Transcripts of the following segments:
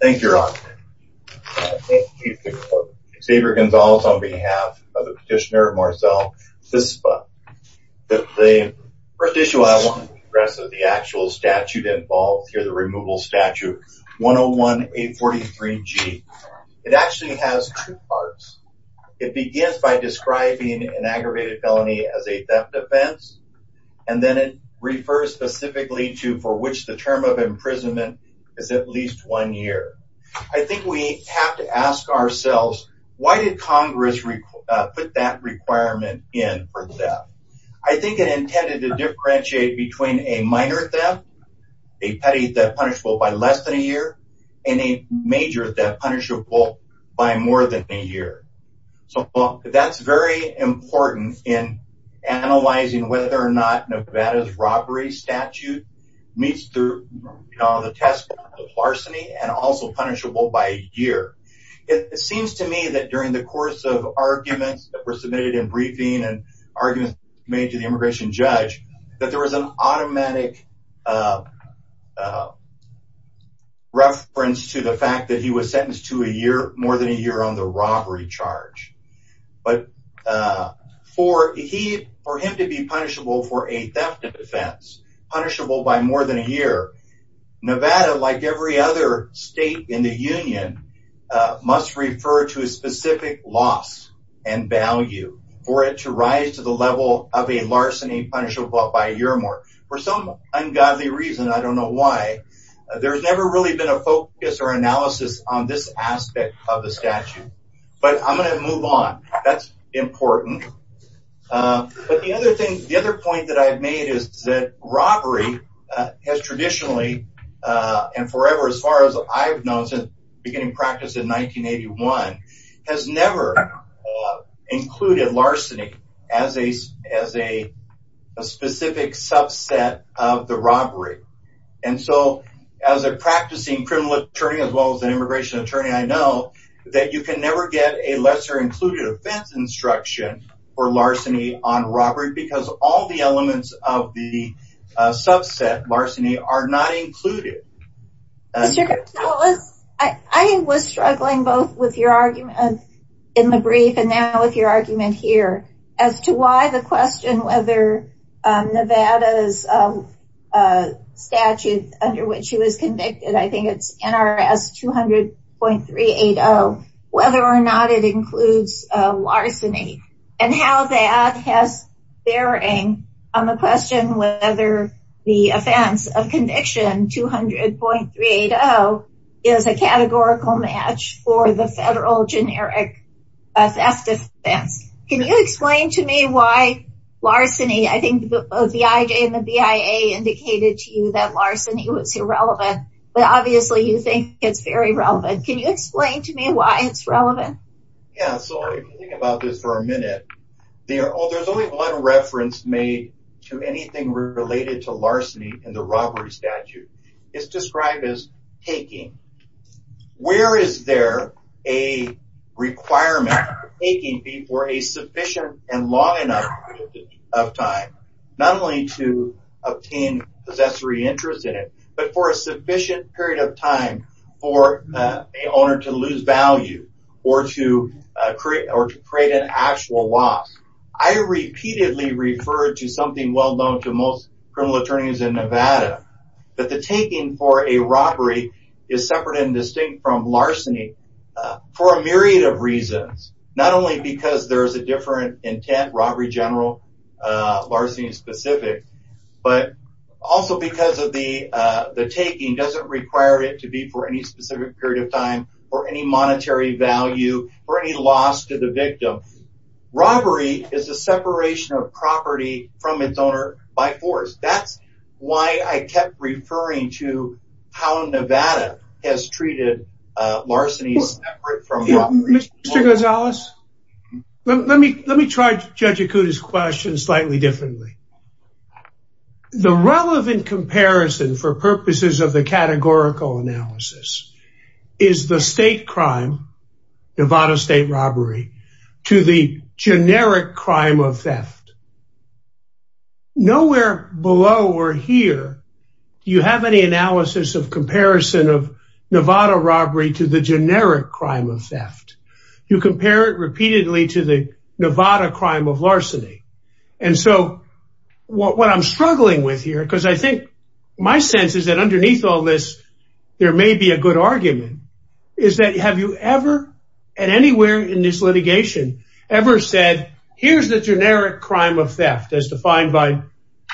Thank you. Xavier Gonzalez on behalf of the petitioner Marcel Szczypka. The first issue I want to address is the actual statute involved here, the removal statute 101-843-G. It actually has two parts. It begins by describing an aggravated felony as a theft offense, and then it refers specifically to for which the term of imprisonment is at least one year. I think we have to ask ourselves, why did Congress put that requirement in for theft? I think it intended to differentiate between a minor theft, a petty theft punishable by less than a year, and a major theft punishable by more than a year. That is very important in analyzing whether or not Nevada's robbery statute meets the test of larceny and also punishable by a year. It seems to me that during the course of arguments that were submitted in briefing and arguments made to the immigration judge, that there was an automatic reference to the fact that he was sentenced to more than a year on the robbery charge. For him to be punishable for a theft offense, punishable by more than a year, Nevada, like every other state in the Union, must refer to a specific loss and value for it to rise to the level of a larceny punishable by a year or more. For some ungodly reason, I don't know why, there has never really been a focus or analysis on this aspect of the statute. But I'm going to move on. That's important. The other point that I've made is that robbery has traditionally, and forever as far as I've known since beginning practice in 1981, has never included larceny as a specific subset of the robbery. As a practicing criminal attorney, as well as an immigration attorney, I know that you can never get a lesser-included offense instruction for larceny on robbery because all the elements of the subset, larceny, are not included. I was struggling both with your argument in the brief and now with your argument here, as to why the question whether Nevada's statute under which he was convicted, I think it's NRS 200.380, whether or not it includes larceny. And how that has bearing on the question whether the offense of conviction, 200.380, is a categorical match for the federal generic theft offense. Can you explain to me why larceny, I think both the IJ and the BIA indicated to you that larceny was irrelevant, but obviously you think it's very relevant. Can you explain to me why it's relevant? Yeah, so if you think about this for a minute, there's only one reference made to anything related to larceny in the robbery statute. It's described as taking. Where is there a requirement for taking for a sufficient and long enough period of time? Not only to obtain possessory interest in it, but for a sufficient period of time for an owner to lose value or to create an actual loss. I repeatedly referred to something well-known to most criminal attorneys in Nevada, that the taking for a robbery is separate and distinct from larceny for a myriad of reasons. Not only because there's a different intent, robbery general, larceny specific, but also because the taking doesn't require it to be for any specific period of time or any monetary value or any loss to the victim. Robbery is a separation of property from its owner by force. That's why I kept referring to how Nevada has treated larceny separate from robbery. Mr. Gonzalez, let me try Judge Ikuda's question slightly differently. The relevant comparison for purposes of the categorical analysis is the state crime, Nevada state robbery, to the generic crime of theft. Nowhere below or here do you have any analysis of comparison of Nevada robbery to the generic crime of theft. You compare it repeatedly to the Nevada crime of larceny. And so what I'm struggling with here, because I think my sense is that underneath all this, there may be a good argument, is that have you ever at anywhere in this litigation ever said, here's the generic crime of theft. As defined by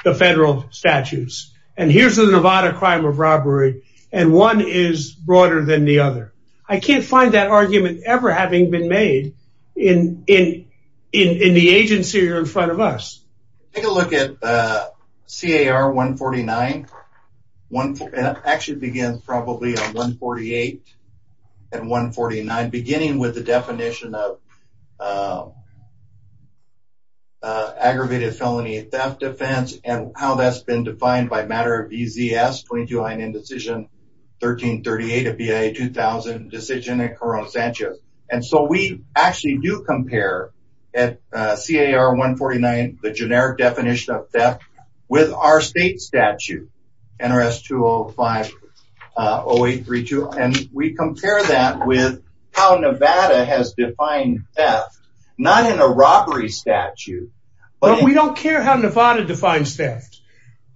the federal statutes. And here's the Nevada crime of robbery. And one is broader than the other. I can't find that argument ever having been made in the agency or in front of us. Take a look at C.A.R. 149. And it actually begins probably on 148 and 149, beginning with the definition of aggravated felony theft offense and how that's been defined by matter of B.Z.S. 22-9 indecision 1338 of BIA 2000 decision in Corona Sanchez. And so we actually do compare at C.A.R. 149, the generic definition of theft with our state statute, NRS 205-0832. And we compare that with how Nevada has defined theft, not in a robbery statute. But we don't care how Nevada defines theft.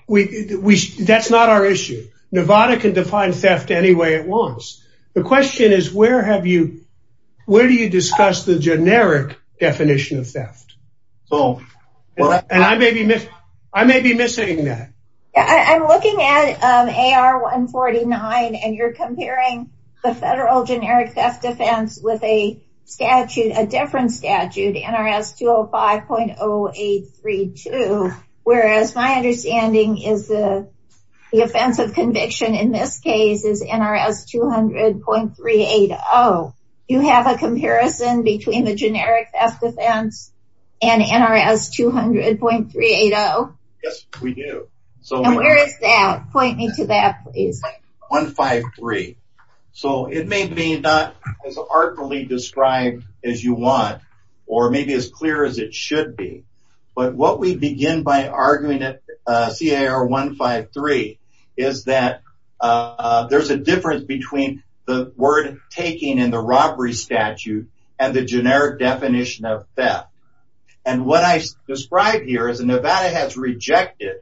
That's not our issue. Nevada can define theft any way it wants. The question is, where do you discuss the generic definition of theft? And I may be missing that. I'm looking at C.A.R. 149 and you're comparing the federal generic theft defense with a statute, a different statute, NRS 205-0832. Whereas my understanding is the offense of conviction in this case is NRS 200.380. Do you have a comparison between the generic theft defense and NRS 200.380? Yes, we do. And where is that? Point me to that, please. C.A.R. 153. So it may be not as artfully described as you want, or maybe as clear as it should be. But what we begin by arguing at C.A.R. 153 is that there's a difference between the word taking in the robbery statute and the generic definition of theft. And what I describe here is Nevada has rejected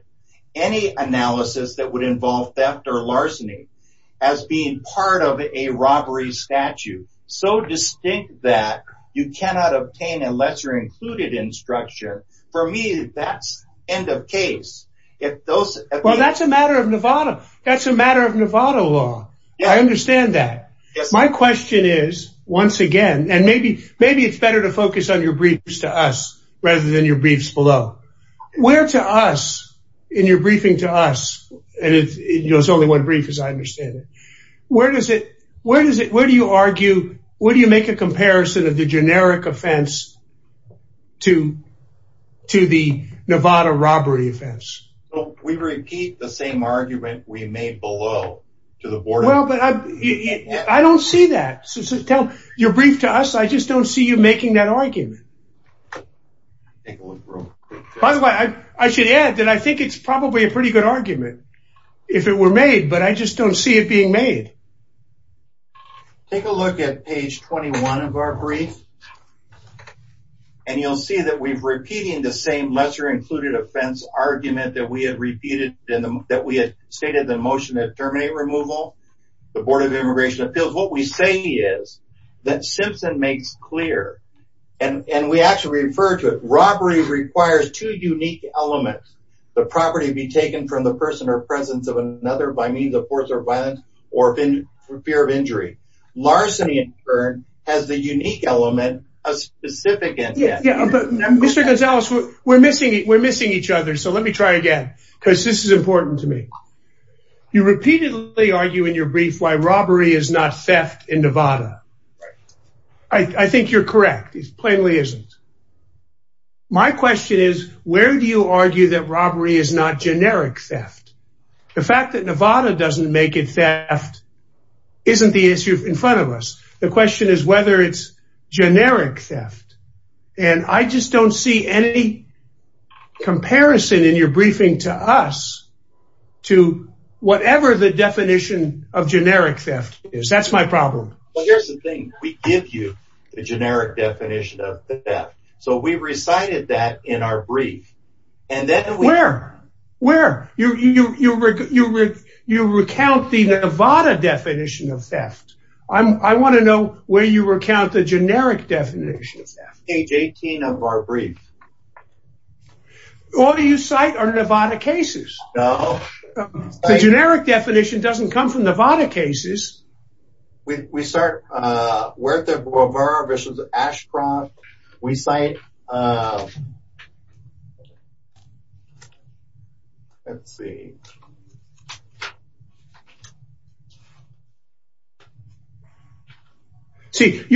any analysis that would involve theft or larceny as being part of a robbery statute. So distinct that you cannot obtain a lesser included instruction. For me, that's end of case. Well, that's a matter of Nevada. That's a matter of Nevada law. I understand that. My question is, once again, and maybe maybe it's better to focus on your briefs to us rather than your briefs below. Where to us in your briefing to us? And it's only one brief as I understand it. Where does it where does it where do you argue? Where do you make a comparison of the generic offense to to the Nevada robbery offense? We repeat the same argument we made below to the board. Well, but I don't see that. So tell your brief to us. I just don't see you making that argument. By the way, I should add that I think it's probably a pretty good argument if it were made, but I just don't see it being made. Take a look at page 21 of our brief. And you'll see that we've repeating the same lesser included offense argument that we had repeated in that we had stated the motion that terminate removal. The Board of Immigration Appeals, what we say is that Simpson makes clear and we actually refer to it. Robbery requires two unique elements. The property be taken from the person or presence of another by means of force or violence or fear of injury. Larceny in turn has the unique element of specific intent. Mr. Gonzalez, we're missing it. We're missing each other. So let me try again, because this is important to me. You repeatedly argue in your brief why robbery is not theft in Nevada. I think you're correct. It plainly isn't. My question is, where do you argue that robbery is not generic theft? The fact that Nevada doesn't make it theft isn't the issue in front of us. The question is whether it's generic theft. And I just don't see any comparison in your briefing to us to whatever the definition of generic theft is. That's my problem. Here's the thing. We give you the generic definition of theft. So we recited that in our brief. Where? You recount the Nevada definition of theft. I want to know where you recount the generic definition of theft. Page 18 of our brief. All you cite are Nevada cases. The generic definition doesn't come from Nevada cases. We cite Werther Brewer v. Ashcroft. You're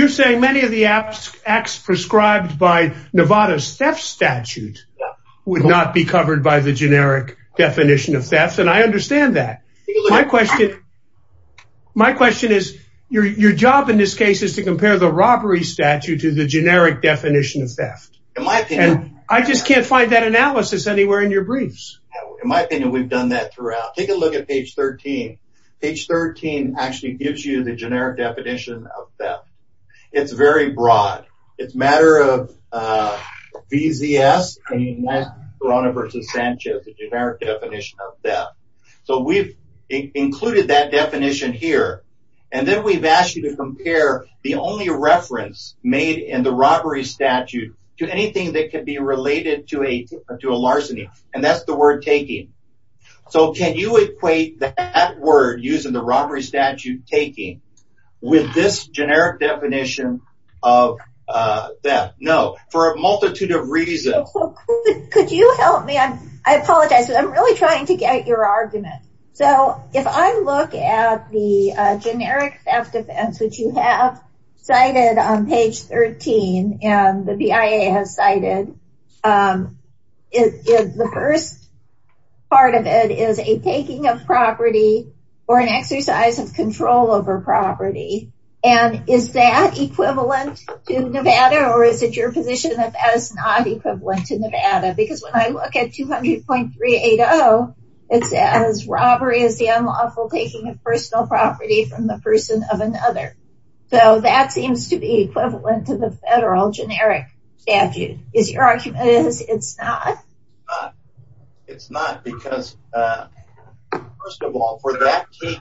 saying many of the acts prescribed by Nevada's theft statute would not be covered by the generic definition of theft, and I understand that. My question is, your job in this case is to compare the robbery statute to the generic definition of theft. I just can't find that analysis anywhere in your briefs. In my opinion, we've done that throughout. Take a look at page 13. Page 13 actually gives you the generic definition of theft. It's very broad. It's a matter of VZS and Nevada v. Sanchez, the generic definition of theft. So we've included that definition here, and then we've asked you to compare the only reference made in the robbery statute to anything that could be related to a larceny, and that's the word taking. So can you equate that word used in the robbery statute, taking, with this generic definition of theft? No. For a multitude of reasons. Could you help me? I apologize, but I'm really trying to get your argument. So if I look at the generic theft offense, which you have cited on page 13, and the BIA has cited, the first part of it is a taking of property or an exercise of control over property. And is that equivalent to Nevada, or is it your position that that is not equivalent to Nevada? Because when I look at 200.380, it says robbery is the unlawful taking of personal property from the person of another. So that seems to be equivalent to the federal generic statute. Is your argument that it's not? It's not because, first of all, for that to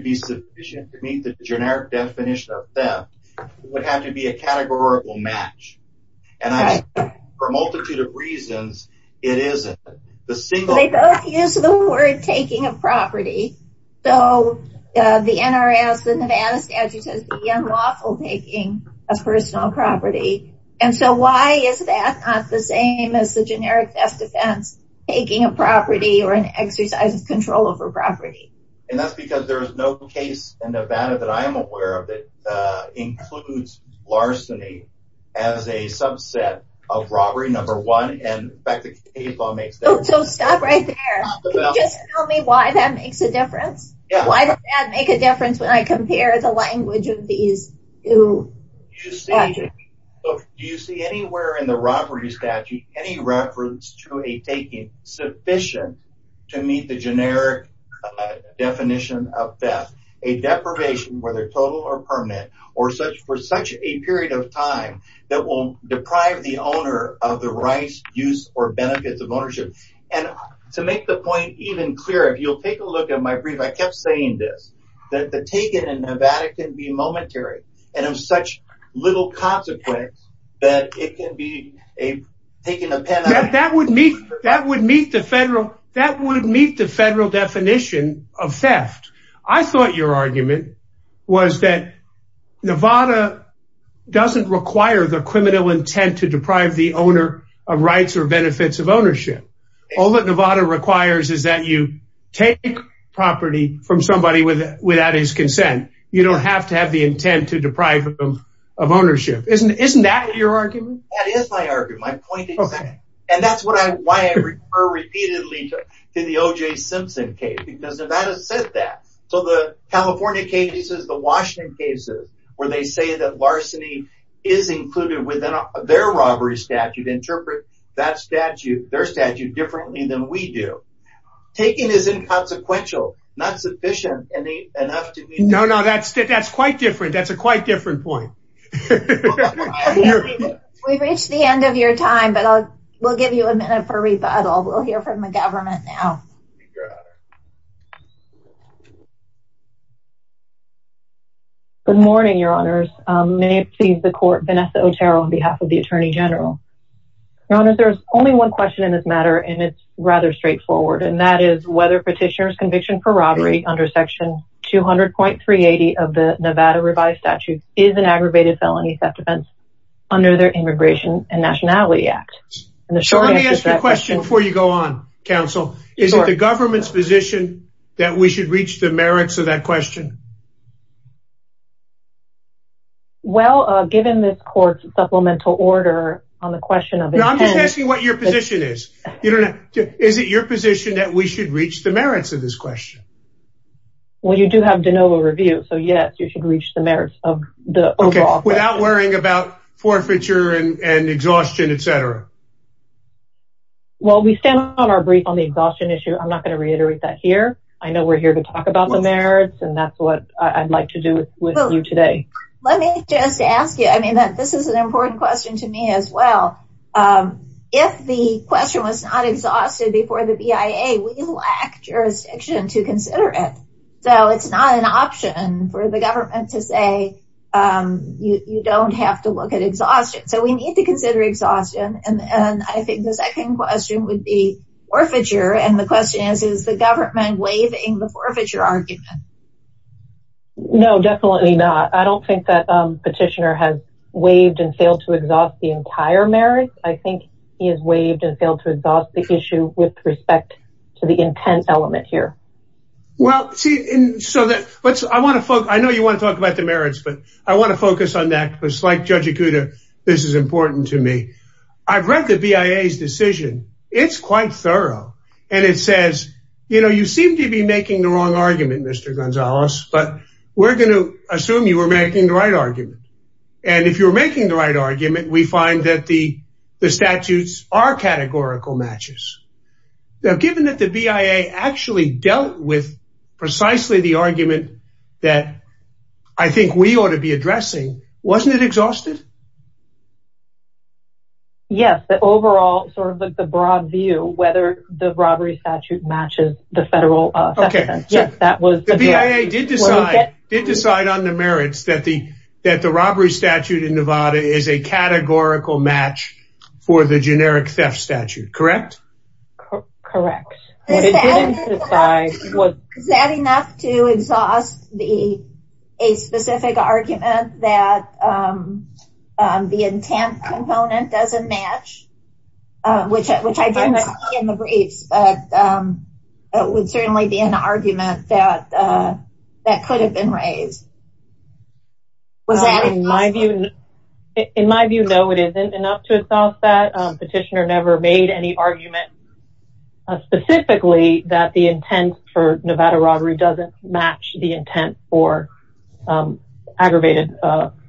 be sufficient to meet the generic definition of theft, it would have to be a categorical match. And for a multitude of reasons, it isn't. They both use the word taking of property. So the NRS, the Nevada statute, says the unlawful taking of personal property. And so why is that not the same as the generic theft offense, taking of property or an exercise of control over property? And that's because there is no case in Nevada that I am aware of that includes larceny as a subset of robbery, number one. So stop right there. Can you just tell me why that makes a difference? Why does that make a difference when I compare the language of these two? Do you see anywhere in the robbery statute any reference to a taking sufficient to meet the generic definition of theft? A deprivation, whether total or permanent, or for such a period of time that will deprive the owner of the rights, use, or benefits of ownership? And to make the point even clearer, if you'll take a look at my brief, I kept saying this, that the taking in Nevada can be momentary. And of such little consequence that it can be a taking of penitential property. That would meet the federal definition of theft. I thought your argument was that Nevada doesn't require the criminal intent to deprive the owner of rights or benefits of ownership. All that Nevada requires is that you take property from somebody without his consent. You don't have to have the intent to deprive them of ownership. Isn't that your argument? That is my argument, my point exactly. And that's why I refer repeatedly to the O.J. Simpson case, because Nevada said that. So the California cases, the Washington cases, where they say that larceny is included within their robbery statute, interpret their statute differently than we do. Taking is inconsequential, not sufficient enough to meet... No, no, that's quite different. That's a quite different point. We've reached the end of your time, but we'll give you a minute for rebuttal. We'll hear from the government now. Good morning, Your Honors. May it please the Court, Vanessa Otero on behalf of the Attorney General. Your Honors, there's only one question in this matter, and it's rather straightforward, and that is whether Petitioner's Conviction for Robbery under Section 200.380 of the Nevada Revised Statute is an aggravated felony theft offense under their Immigration and Nationality Act. So let me ask you a question before you go on, Counsel. Is it the government's position that we should reach the merits of that question? Well, given this Court's supplemental order on the question of... No, I'm just asking what your position is. Is it your position that we should reach the merits of this question? Well, you do have de novo review, so yes, you should reach the merits of the overall... Okay, without worrying about forfeiture and exhaustion, etc. Well, we stand on our brief on the exhaustion issue. I'm not going to reiterate that here. I know we're here to talk about the merits, and that's what I'd like to do with you today. Let me just ask you, I mean, this is an important question to me as well. If the question was not exhausted before the BIA, we lack jurisdiction to consider it. So it's not an option for the government to say you don't have to look at exhaustion. So we need to consider exhaustion, and I think the second question would be forfeiture, and the question is, is the government waiving the forfeiture argument? No, definitely not. I don't think that Petitioner has waived and failed to exhaust the entire merits. I think he has waived and failed to exhaust the issue with respect to the intent element here. Well, I know you want to talk about the merits, but I want to focus on that because like Judge Ikuda, this is important to me. I've read the BIA's decision. It's quite thorough, and it says, you know, you seem to be making the wrong argument, Mr. Gonzales, but we're going to assume you were making the right argument. And if you're making the right argument, we find that the statutes are categorical matches. Now, given that the BIA actually dealt with precisely the argument that I think we ought to be addressing, wasn't it exhausted? Yes, the overall sort of the broad view, whether the robbery statute matches the federal statute. The BIA did decide on the merits that the robbery statute in Nevada is a categorical match for the generic theft statute, correct? Correct. Is that enough to exhaust a specific argument that the intent component doesn't match, which I didn't see in the briefs, but it would certainly be an argument that could have been raised. In my view, no, it isn't enough to exhaust that. Petitioner never made any argument specifically that the intent for Nevada robbery doesn't match the intent for aggravated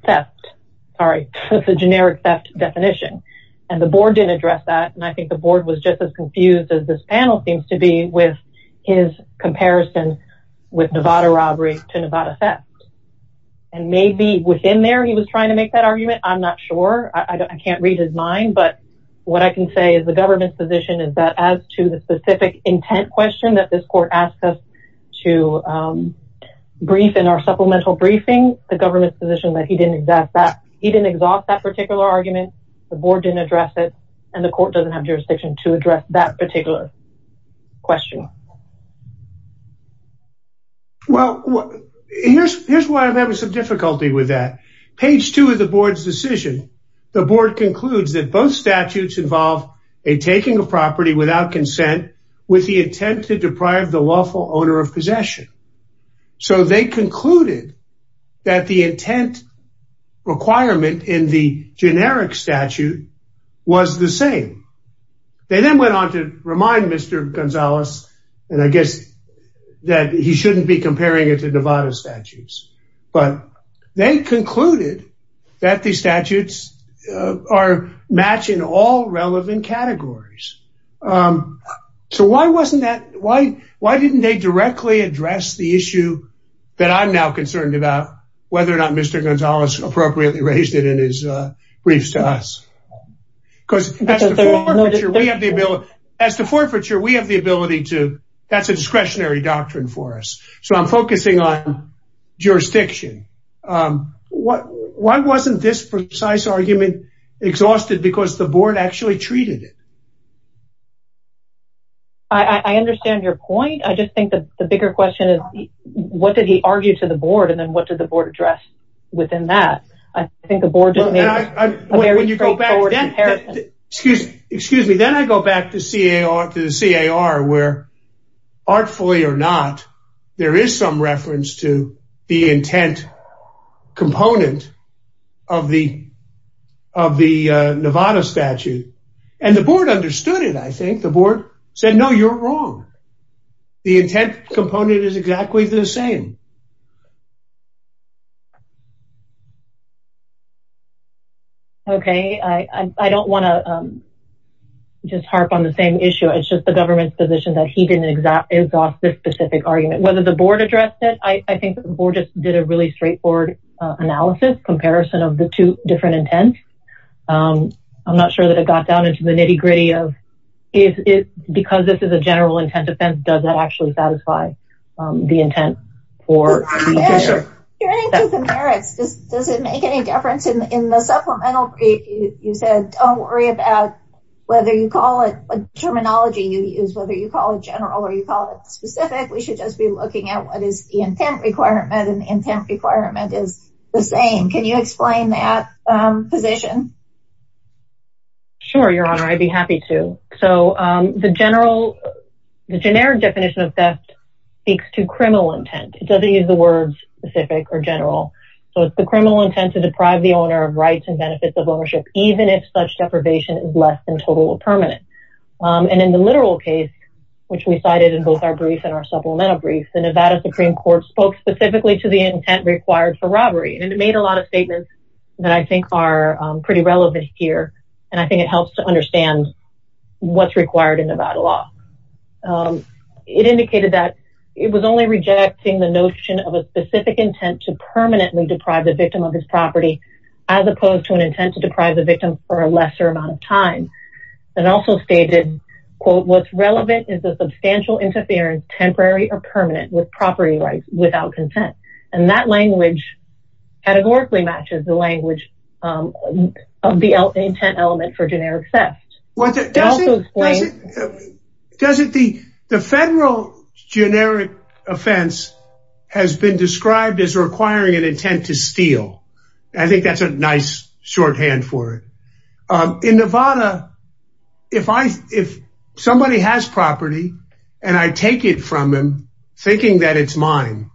theft. Sorry, that's a generic theft definition. And the board didn't address that. And I think the board was just as confused as this panel seems to be with his comparison with Nevada robbery to Nevada theft. And maybe within there, he was trying to make that argument. I'm not sure. I can't read his mind. But what I can say is the government's position is that as to the specific intent question that this court asked us to brief in our supplemental briefing, the government's position that he didn't exhaust that particular argument, the board didn't address it, and the court doesn't have jurisdiction to address that particular question. Well, here's why I'm having some difficulty with that. Page two of the board's decision, the board concludes that both statutes involve a taking of property without consent with the intent to deprive the lawful owner of possession. So they concluded that the intent requirement in the generic statute was the same. They then went on to remind Mr. Gonzalez, and I guess that he shouldn't be comparing it to Nevada statutes, but they concluded that the statutes are matching all relevant categories. So why didn't they directly address the issue that I'm now concerned about, whether or not Mr. Gonzalez appropriately raised it in his briefs to us? Because as to forfeiture, we have the ability to. That's a discretionary doctrine for us. So I'm focusing on jurisdiction. Why wasn't this precise argument exhausted? Because the board actually treated it. I understand your point. I just think that the bigger question is, what did he argue to the board? And then what did the board address within that? I think the board. Excuse me, then I go back to the CAR where, artfully or not, there is some reference to the intent component of the Nevada statute. And the board understood it, I think. The board said, no, you're wrong. The intent component is exactly the same. Okay. I don't want to just harp on the same issue. It's just the government's position that he didn't exhaust this specific argument. Whether the board addressed it, I think the board just did a really straightforward analysis comparison of the two different intents. I'm not sure that it got down into the nitty gritty of, because this is a general intent offense, does that actually satisfy the intent? Does it make any difference in the supplemental brief? You said, don't worry about whether you call it a terminology you use, whether you call it general or you call it specific. We should just be looking at what is the intent requirement. And the intent requirement is the same. Can you explain that position? Sure, Your Honor, I'd be happy to. So the generic definition of theft speaks to criminal intent. It doesn't use the words specific or general. So it's the criminal intent to deprive the owner of rights and benefits of ownership, even if such deprivation is less than total or permanent. And in the literal case, which we cited in both our brief and our supplemental brief, the Nevada Supreme Court spoke specifically to the intent required for robbery. And it made a lot of statements that I think are pretty relevant here. And I think it helps to understand what's required in Nevada law. It indicated that it was only rejecting the notion of a specific intent to permanently deprive the victim of his property, as opposed to an intent to deprive the victim for a lesser amount of time. And also stated, quote, what's relevant is the substantial interference, temporary or permanent with property rights without consent. And that language categorically matches the language of the intent element for generic theft. The federal generic offense has been described as requiring an intent to steal. I think that's a nice shorthand for it. In Nevada, if somebody has property, and I take it from them, thinking that it's mine,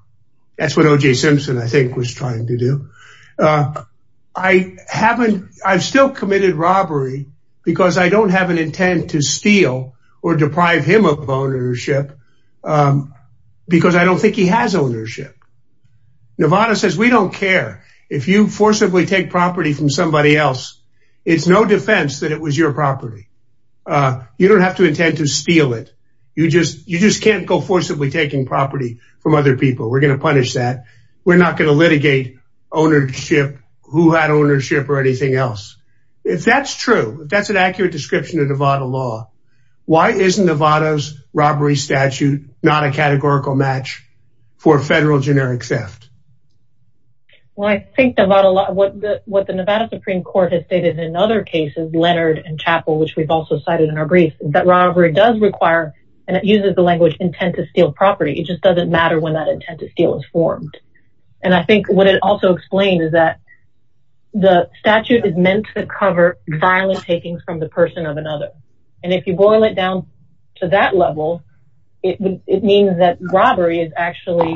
that's what OJ Simpson, I think, was trying to do. I haven't, I've still committed robbery, because I don't have an intent to steal or deprive him of ownership. Because I don't think he has ownership. Nevada says we don't care if you forcibly take property from somebody else. It's no defense that it was your property. You don't have to intend to steal it. You just can't go forcibly taking property from other people. We're going to punish that. We're not going to litigate ownership, who had ownership or anything else. If that's true, if that's an accurate description of Nevada law, why isn't Nevada's robbery statute not a categorical match for federal generic theft? Well, I think Nevada law, what the Nevada Supreme Court has stated in other cases, Leonard and Chapel, which we've also cited in our brief, that robbery does require, and it uses the language intent to steal property. It just doesn't matter when that intent to steal is formed. And I think what it also explains is that the statute is meant to cover violent takings from the person of another. And if you boil it down to that level, it means that robbery is actually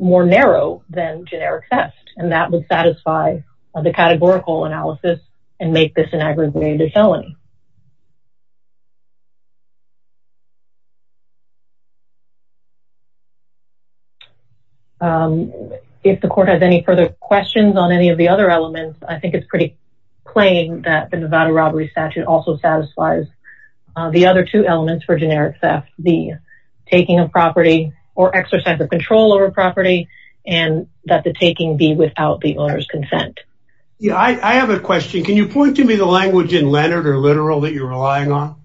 more narrow than generic theft. And that would satisfy the categorical analysis and make this an aggravated felony. If the court has any further questions on any of the other elements, I think it's pretty plain that the Nevada robbery statute also satisfies the other two elements for generic theft, the taking of property or exercise of control over property, and that the taking be without the owner's consent. I have a question. Can you point to me the language in Leonard or literal that you're relying on?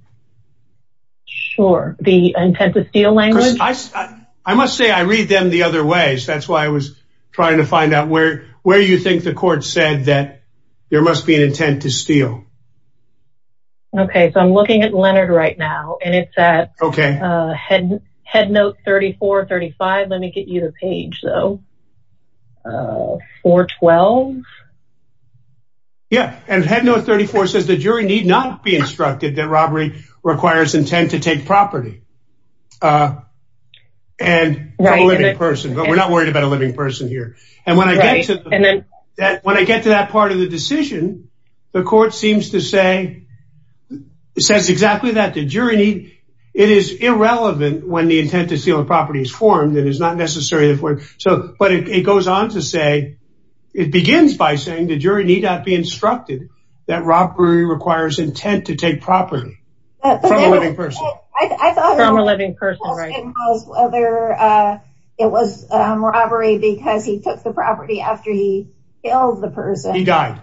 Sure. The intent to steal language? I must say I read them the other way. So that's why I was trying to find out where you think the court said that there must be an intent to steal. Okay, so I'm looking at Leonard right now, and it's at Headnote 34, 35. Let me get you the page, though. 412? Yeah. And Headnote 34 says the jury need not be instructed that robbery requires intent to take property and a living person. But we're not worried about a living person here. And when I get to that part of the decision, the court seems to say, it says exactly that the jury need. It is irrelevant when the intent to steal a property is formed. It is not necessary. So, but it goes on to say, it begins by saying the jury need not be instructed that robbery requires intent to take property from a living person. I thought it was whether it was robbery because he took the property after he killed the person. He died.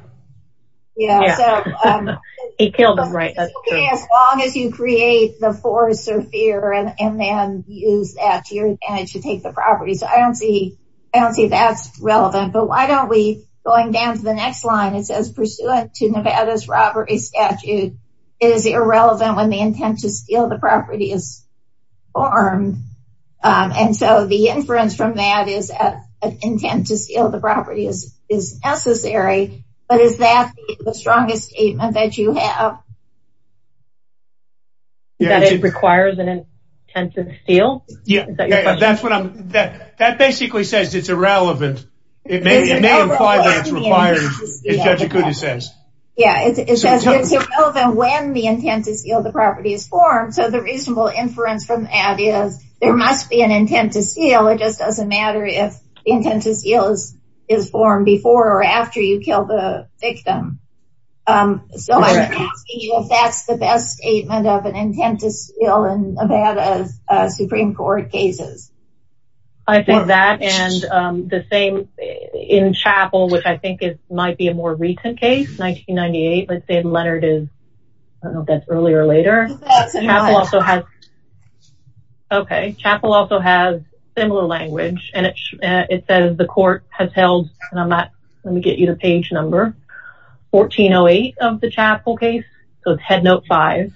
Yeah. He killed him, right. That's true. As long as you create the force or fear and then use that to your advantage to take the property. So I don't see, I don't see that's relevant. But why don't we going down to the next line, it says pursuant to Nevada's robbery statute is irrelevant when the intent to steal the property is formed. And so the inference from that is an intent to steal the property is, is necessary. But is that the strongest statement that you have? That it requires an intent to steal? Yeah, that's what I'm, that basically says it's irrelevant. It may imply that it's required, as Judge Acuda says. Yeah, it says it's irrelevant when the intent to steal the property is formed. So the reasonable inference from that is there must be an intent to steal. It just doesn't matter if the intent to steal is formed before or after you kill the victim. So I'm asking you if that's the best statement of an intent to steal in Nevada's Supreme Court cases. I think that and the same in Chapel, which I think is might be a more recent case 1998. Let's say Leonard is, I don't know if that's earlier or later. Okay, Chapel also has similar language, and it says the court has held, and I'm not, let me get you the page number, 1408 of the Chapel case, so it's headnote five.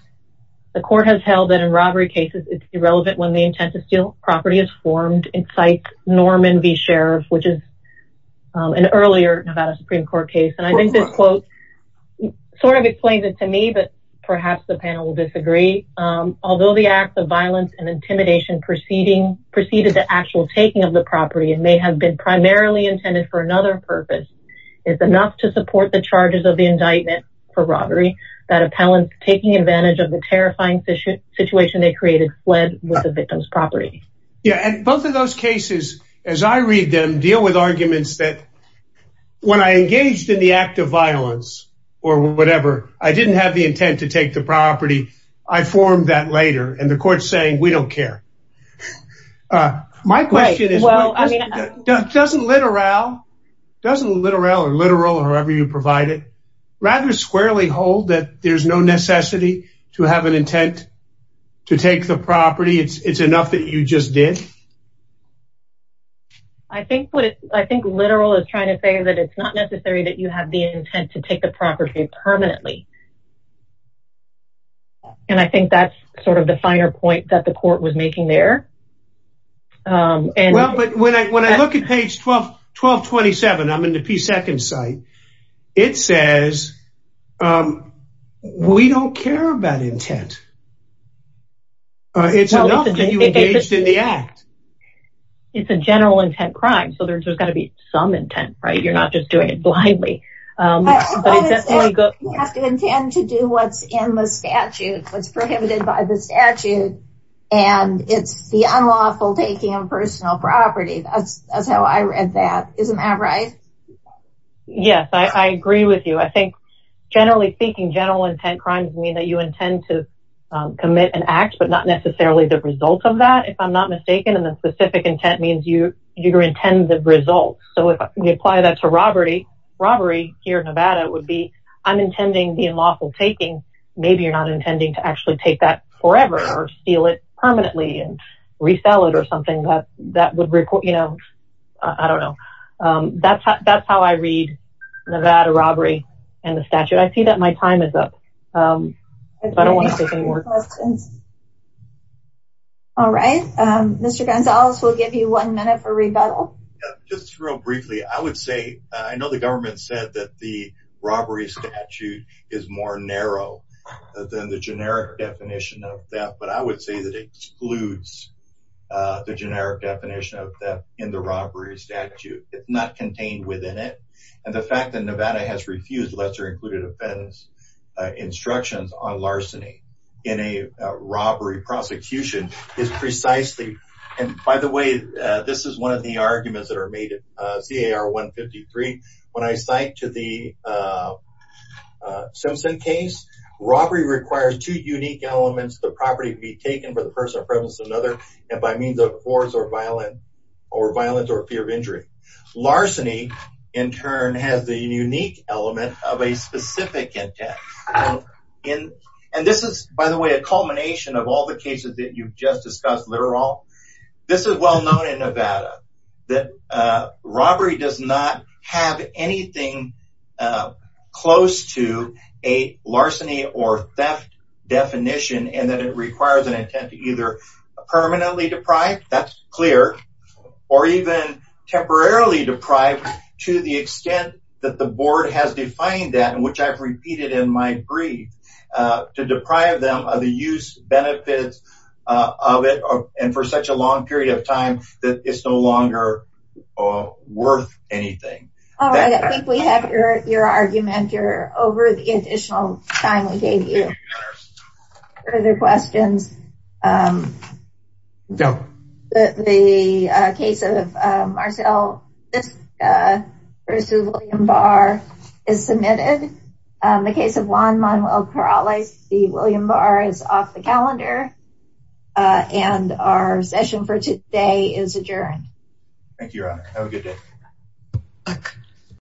The court has held that in robbery cases, it's irrelevant when the intent to steal property is formed, incites Norman v. Sheriff, which is an earlier Nevada Supreme Court case. And I think this quote sort of explains it to me, but perhaps the panel will disagree. Although the acts of violence and intimidation preceded the actual taking of the property and may have been primarily intended for another purpose, it's enough to support the charges of the indictment for robbery that appellants taking advantage of the terrifying situation they created fled with the victim's property. Yeah, and both of those cases, as I read them, deal with arguments that when I engaged in the act of violence or whatever, I didn't have the intent to take the property, I formed that later, and the court's saying we don't care. My question is, doesn't Littoral, or Littoral, or whoever you provide it, rather squarely hold that there's no necessity to have an intent to take the property, it's enough that you just did? I think Littoral is trying to say that it's not necessary that you have the intent to take the property permanently. And I think that's sort of the finer point that the court was making there. Well, but when I look at page 1227, I'm in the P2 site, it says we don't care about intent. It's enough that you engaged in the act. It's a general intent crime, so there's got to be some intent, right? You're not just doing it blindly. You have to intend to do what's in the statute, what's prohibited by the statute, and it's the unlawful taking of personal property. That's how I read that. Isn't that right? Yes, I agree with you. I think generally speaking, general intent crimes mean that you intend to commit an act, but not necessarily the result of that, if I'm not mistaken. And then specific intent means you intend the result. So if we apply that to robbery here in Nevada, it would be, I'm intending the unlawful taking. Maybe you're not intending to actually take that forever or steal it permanently and resell it or something that would report, you know, I don't know. That's how I read Nevada robbery and the statute. I see that my time is up. I don't want to take any more questions. All right. Mr. Gonzalez, we'll give you one minute for rebuttal. Just real briefly, I would say, I know the government said that the robbery statute is more narrow than the generic definition of theft, but I would say that it excludes the generic definition of theft in the robbery statute. It's not contained within it. And the fact that Nevada has refused lesser included offense instructions on larceny in a robbery prosecution is precisely, and by the way, this is one of the arguments that are made at CAR 153. When I cite to the Simpson case, robbery requires two unique elements. The property be taken for the personal prevalence of another and by means of force or violence or violence or fear of injury. Larceny, in turn, has the unique element of a specific intent. And this is, by the way, a culmination of all the cases that you've just discussed, literal. This is well known in Nevada that robbery does not have anything close to a larceny or theft definition, and that it requires an intent to either permanently deprive, that's clear, or even temporarily deprive to the extent that the board has defined that, which I've repeated in my brief, to deprive them of the use benefits of it and for such a long period of time that it's no longer worth anything. All right, I think we have your argument here over the additional time we gave you. Further questions? No. The case of Marcel Fisk versus William Barr is submitted. The case of Juan Manuel Corrales v. William Barr is off the calendar. And our session for today is adjourned. Thank you, Ron. Have a good day.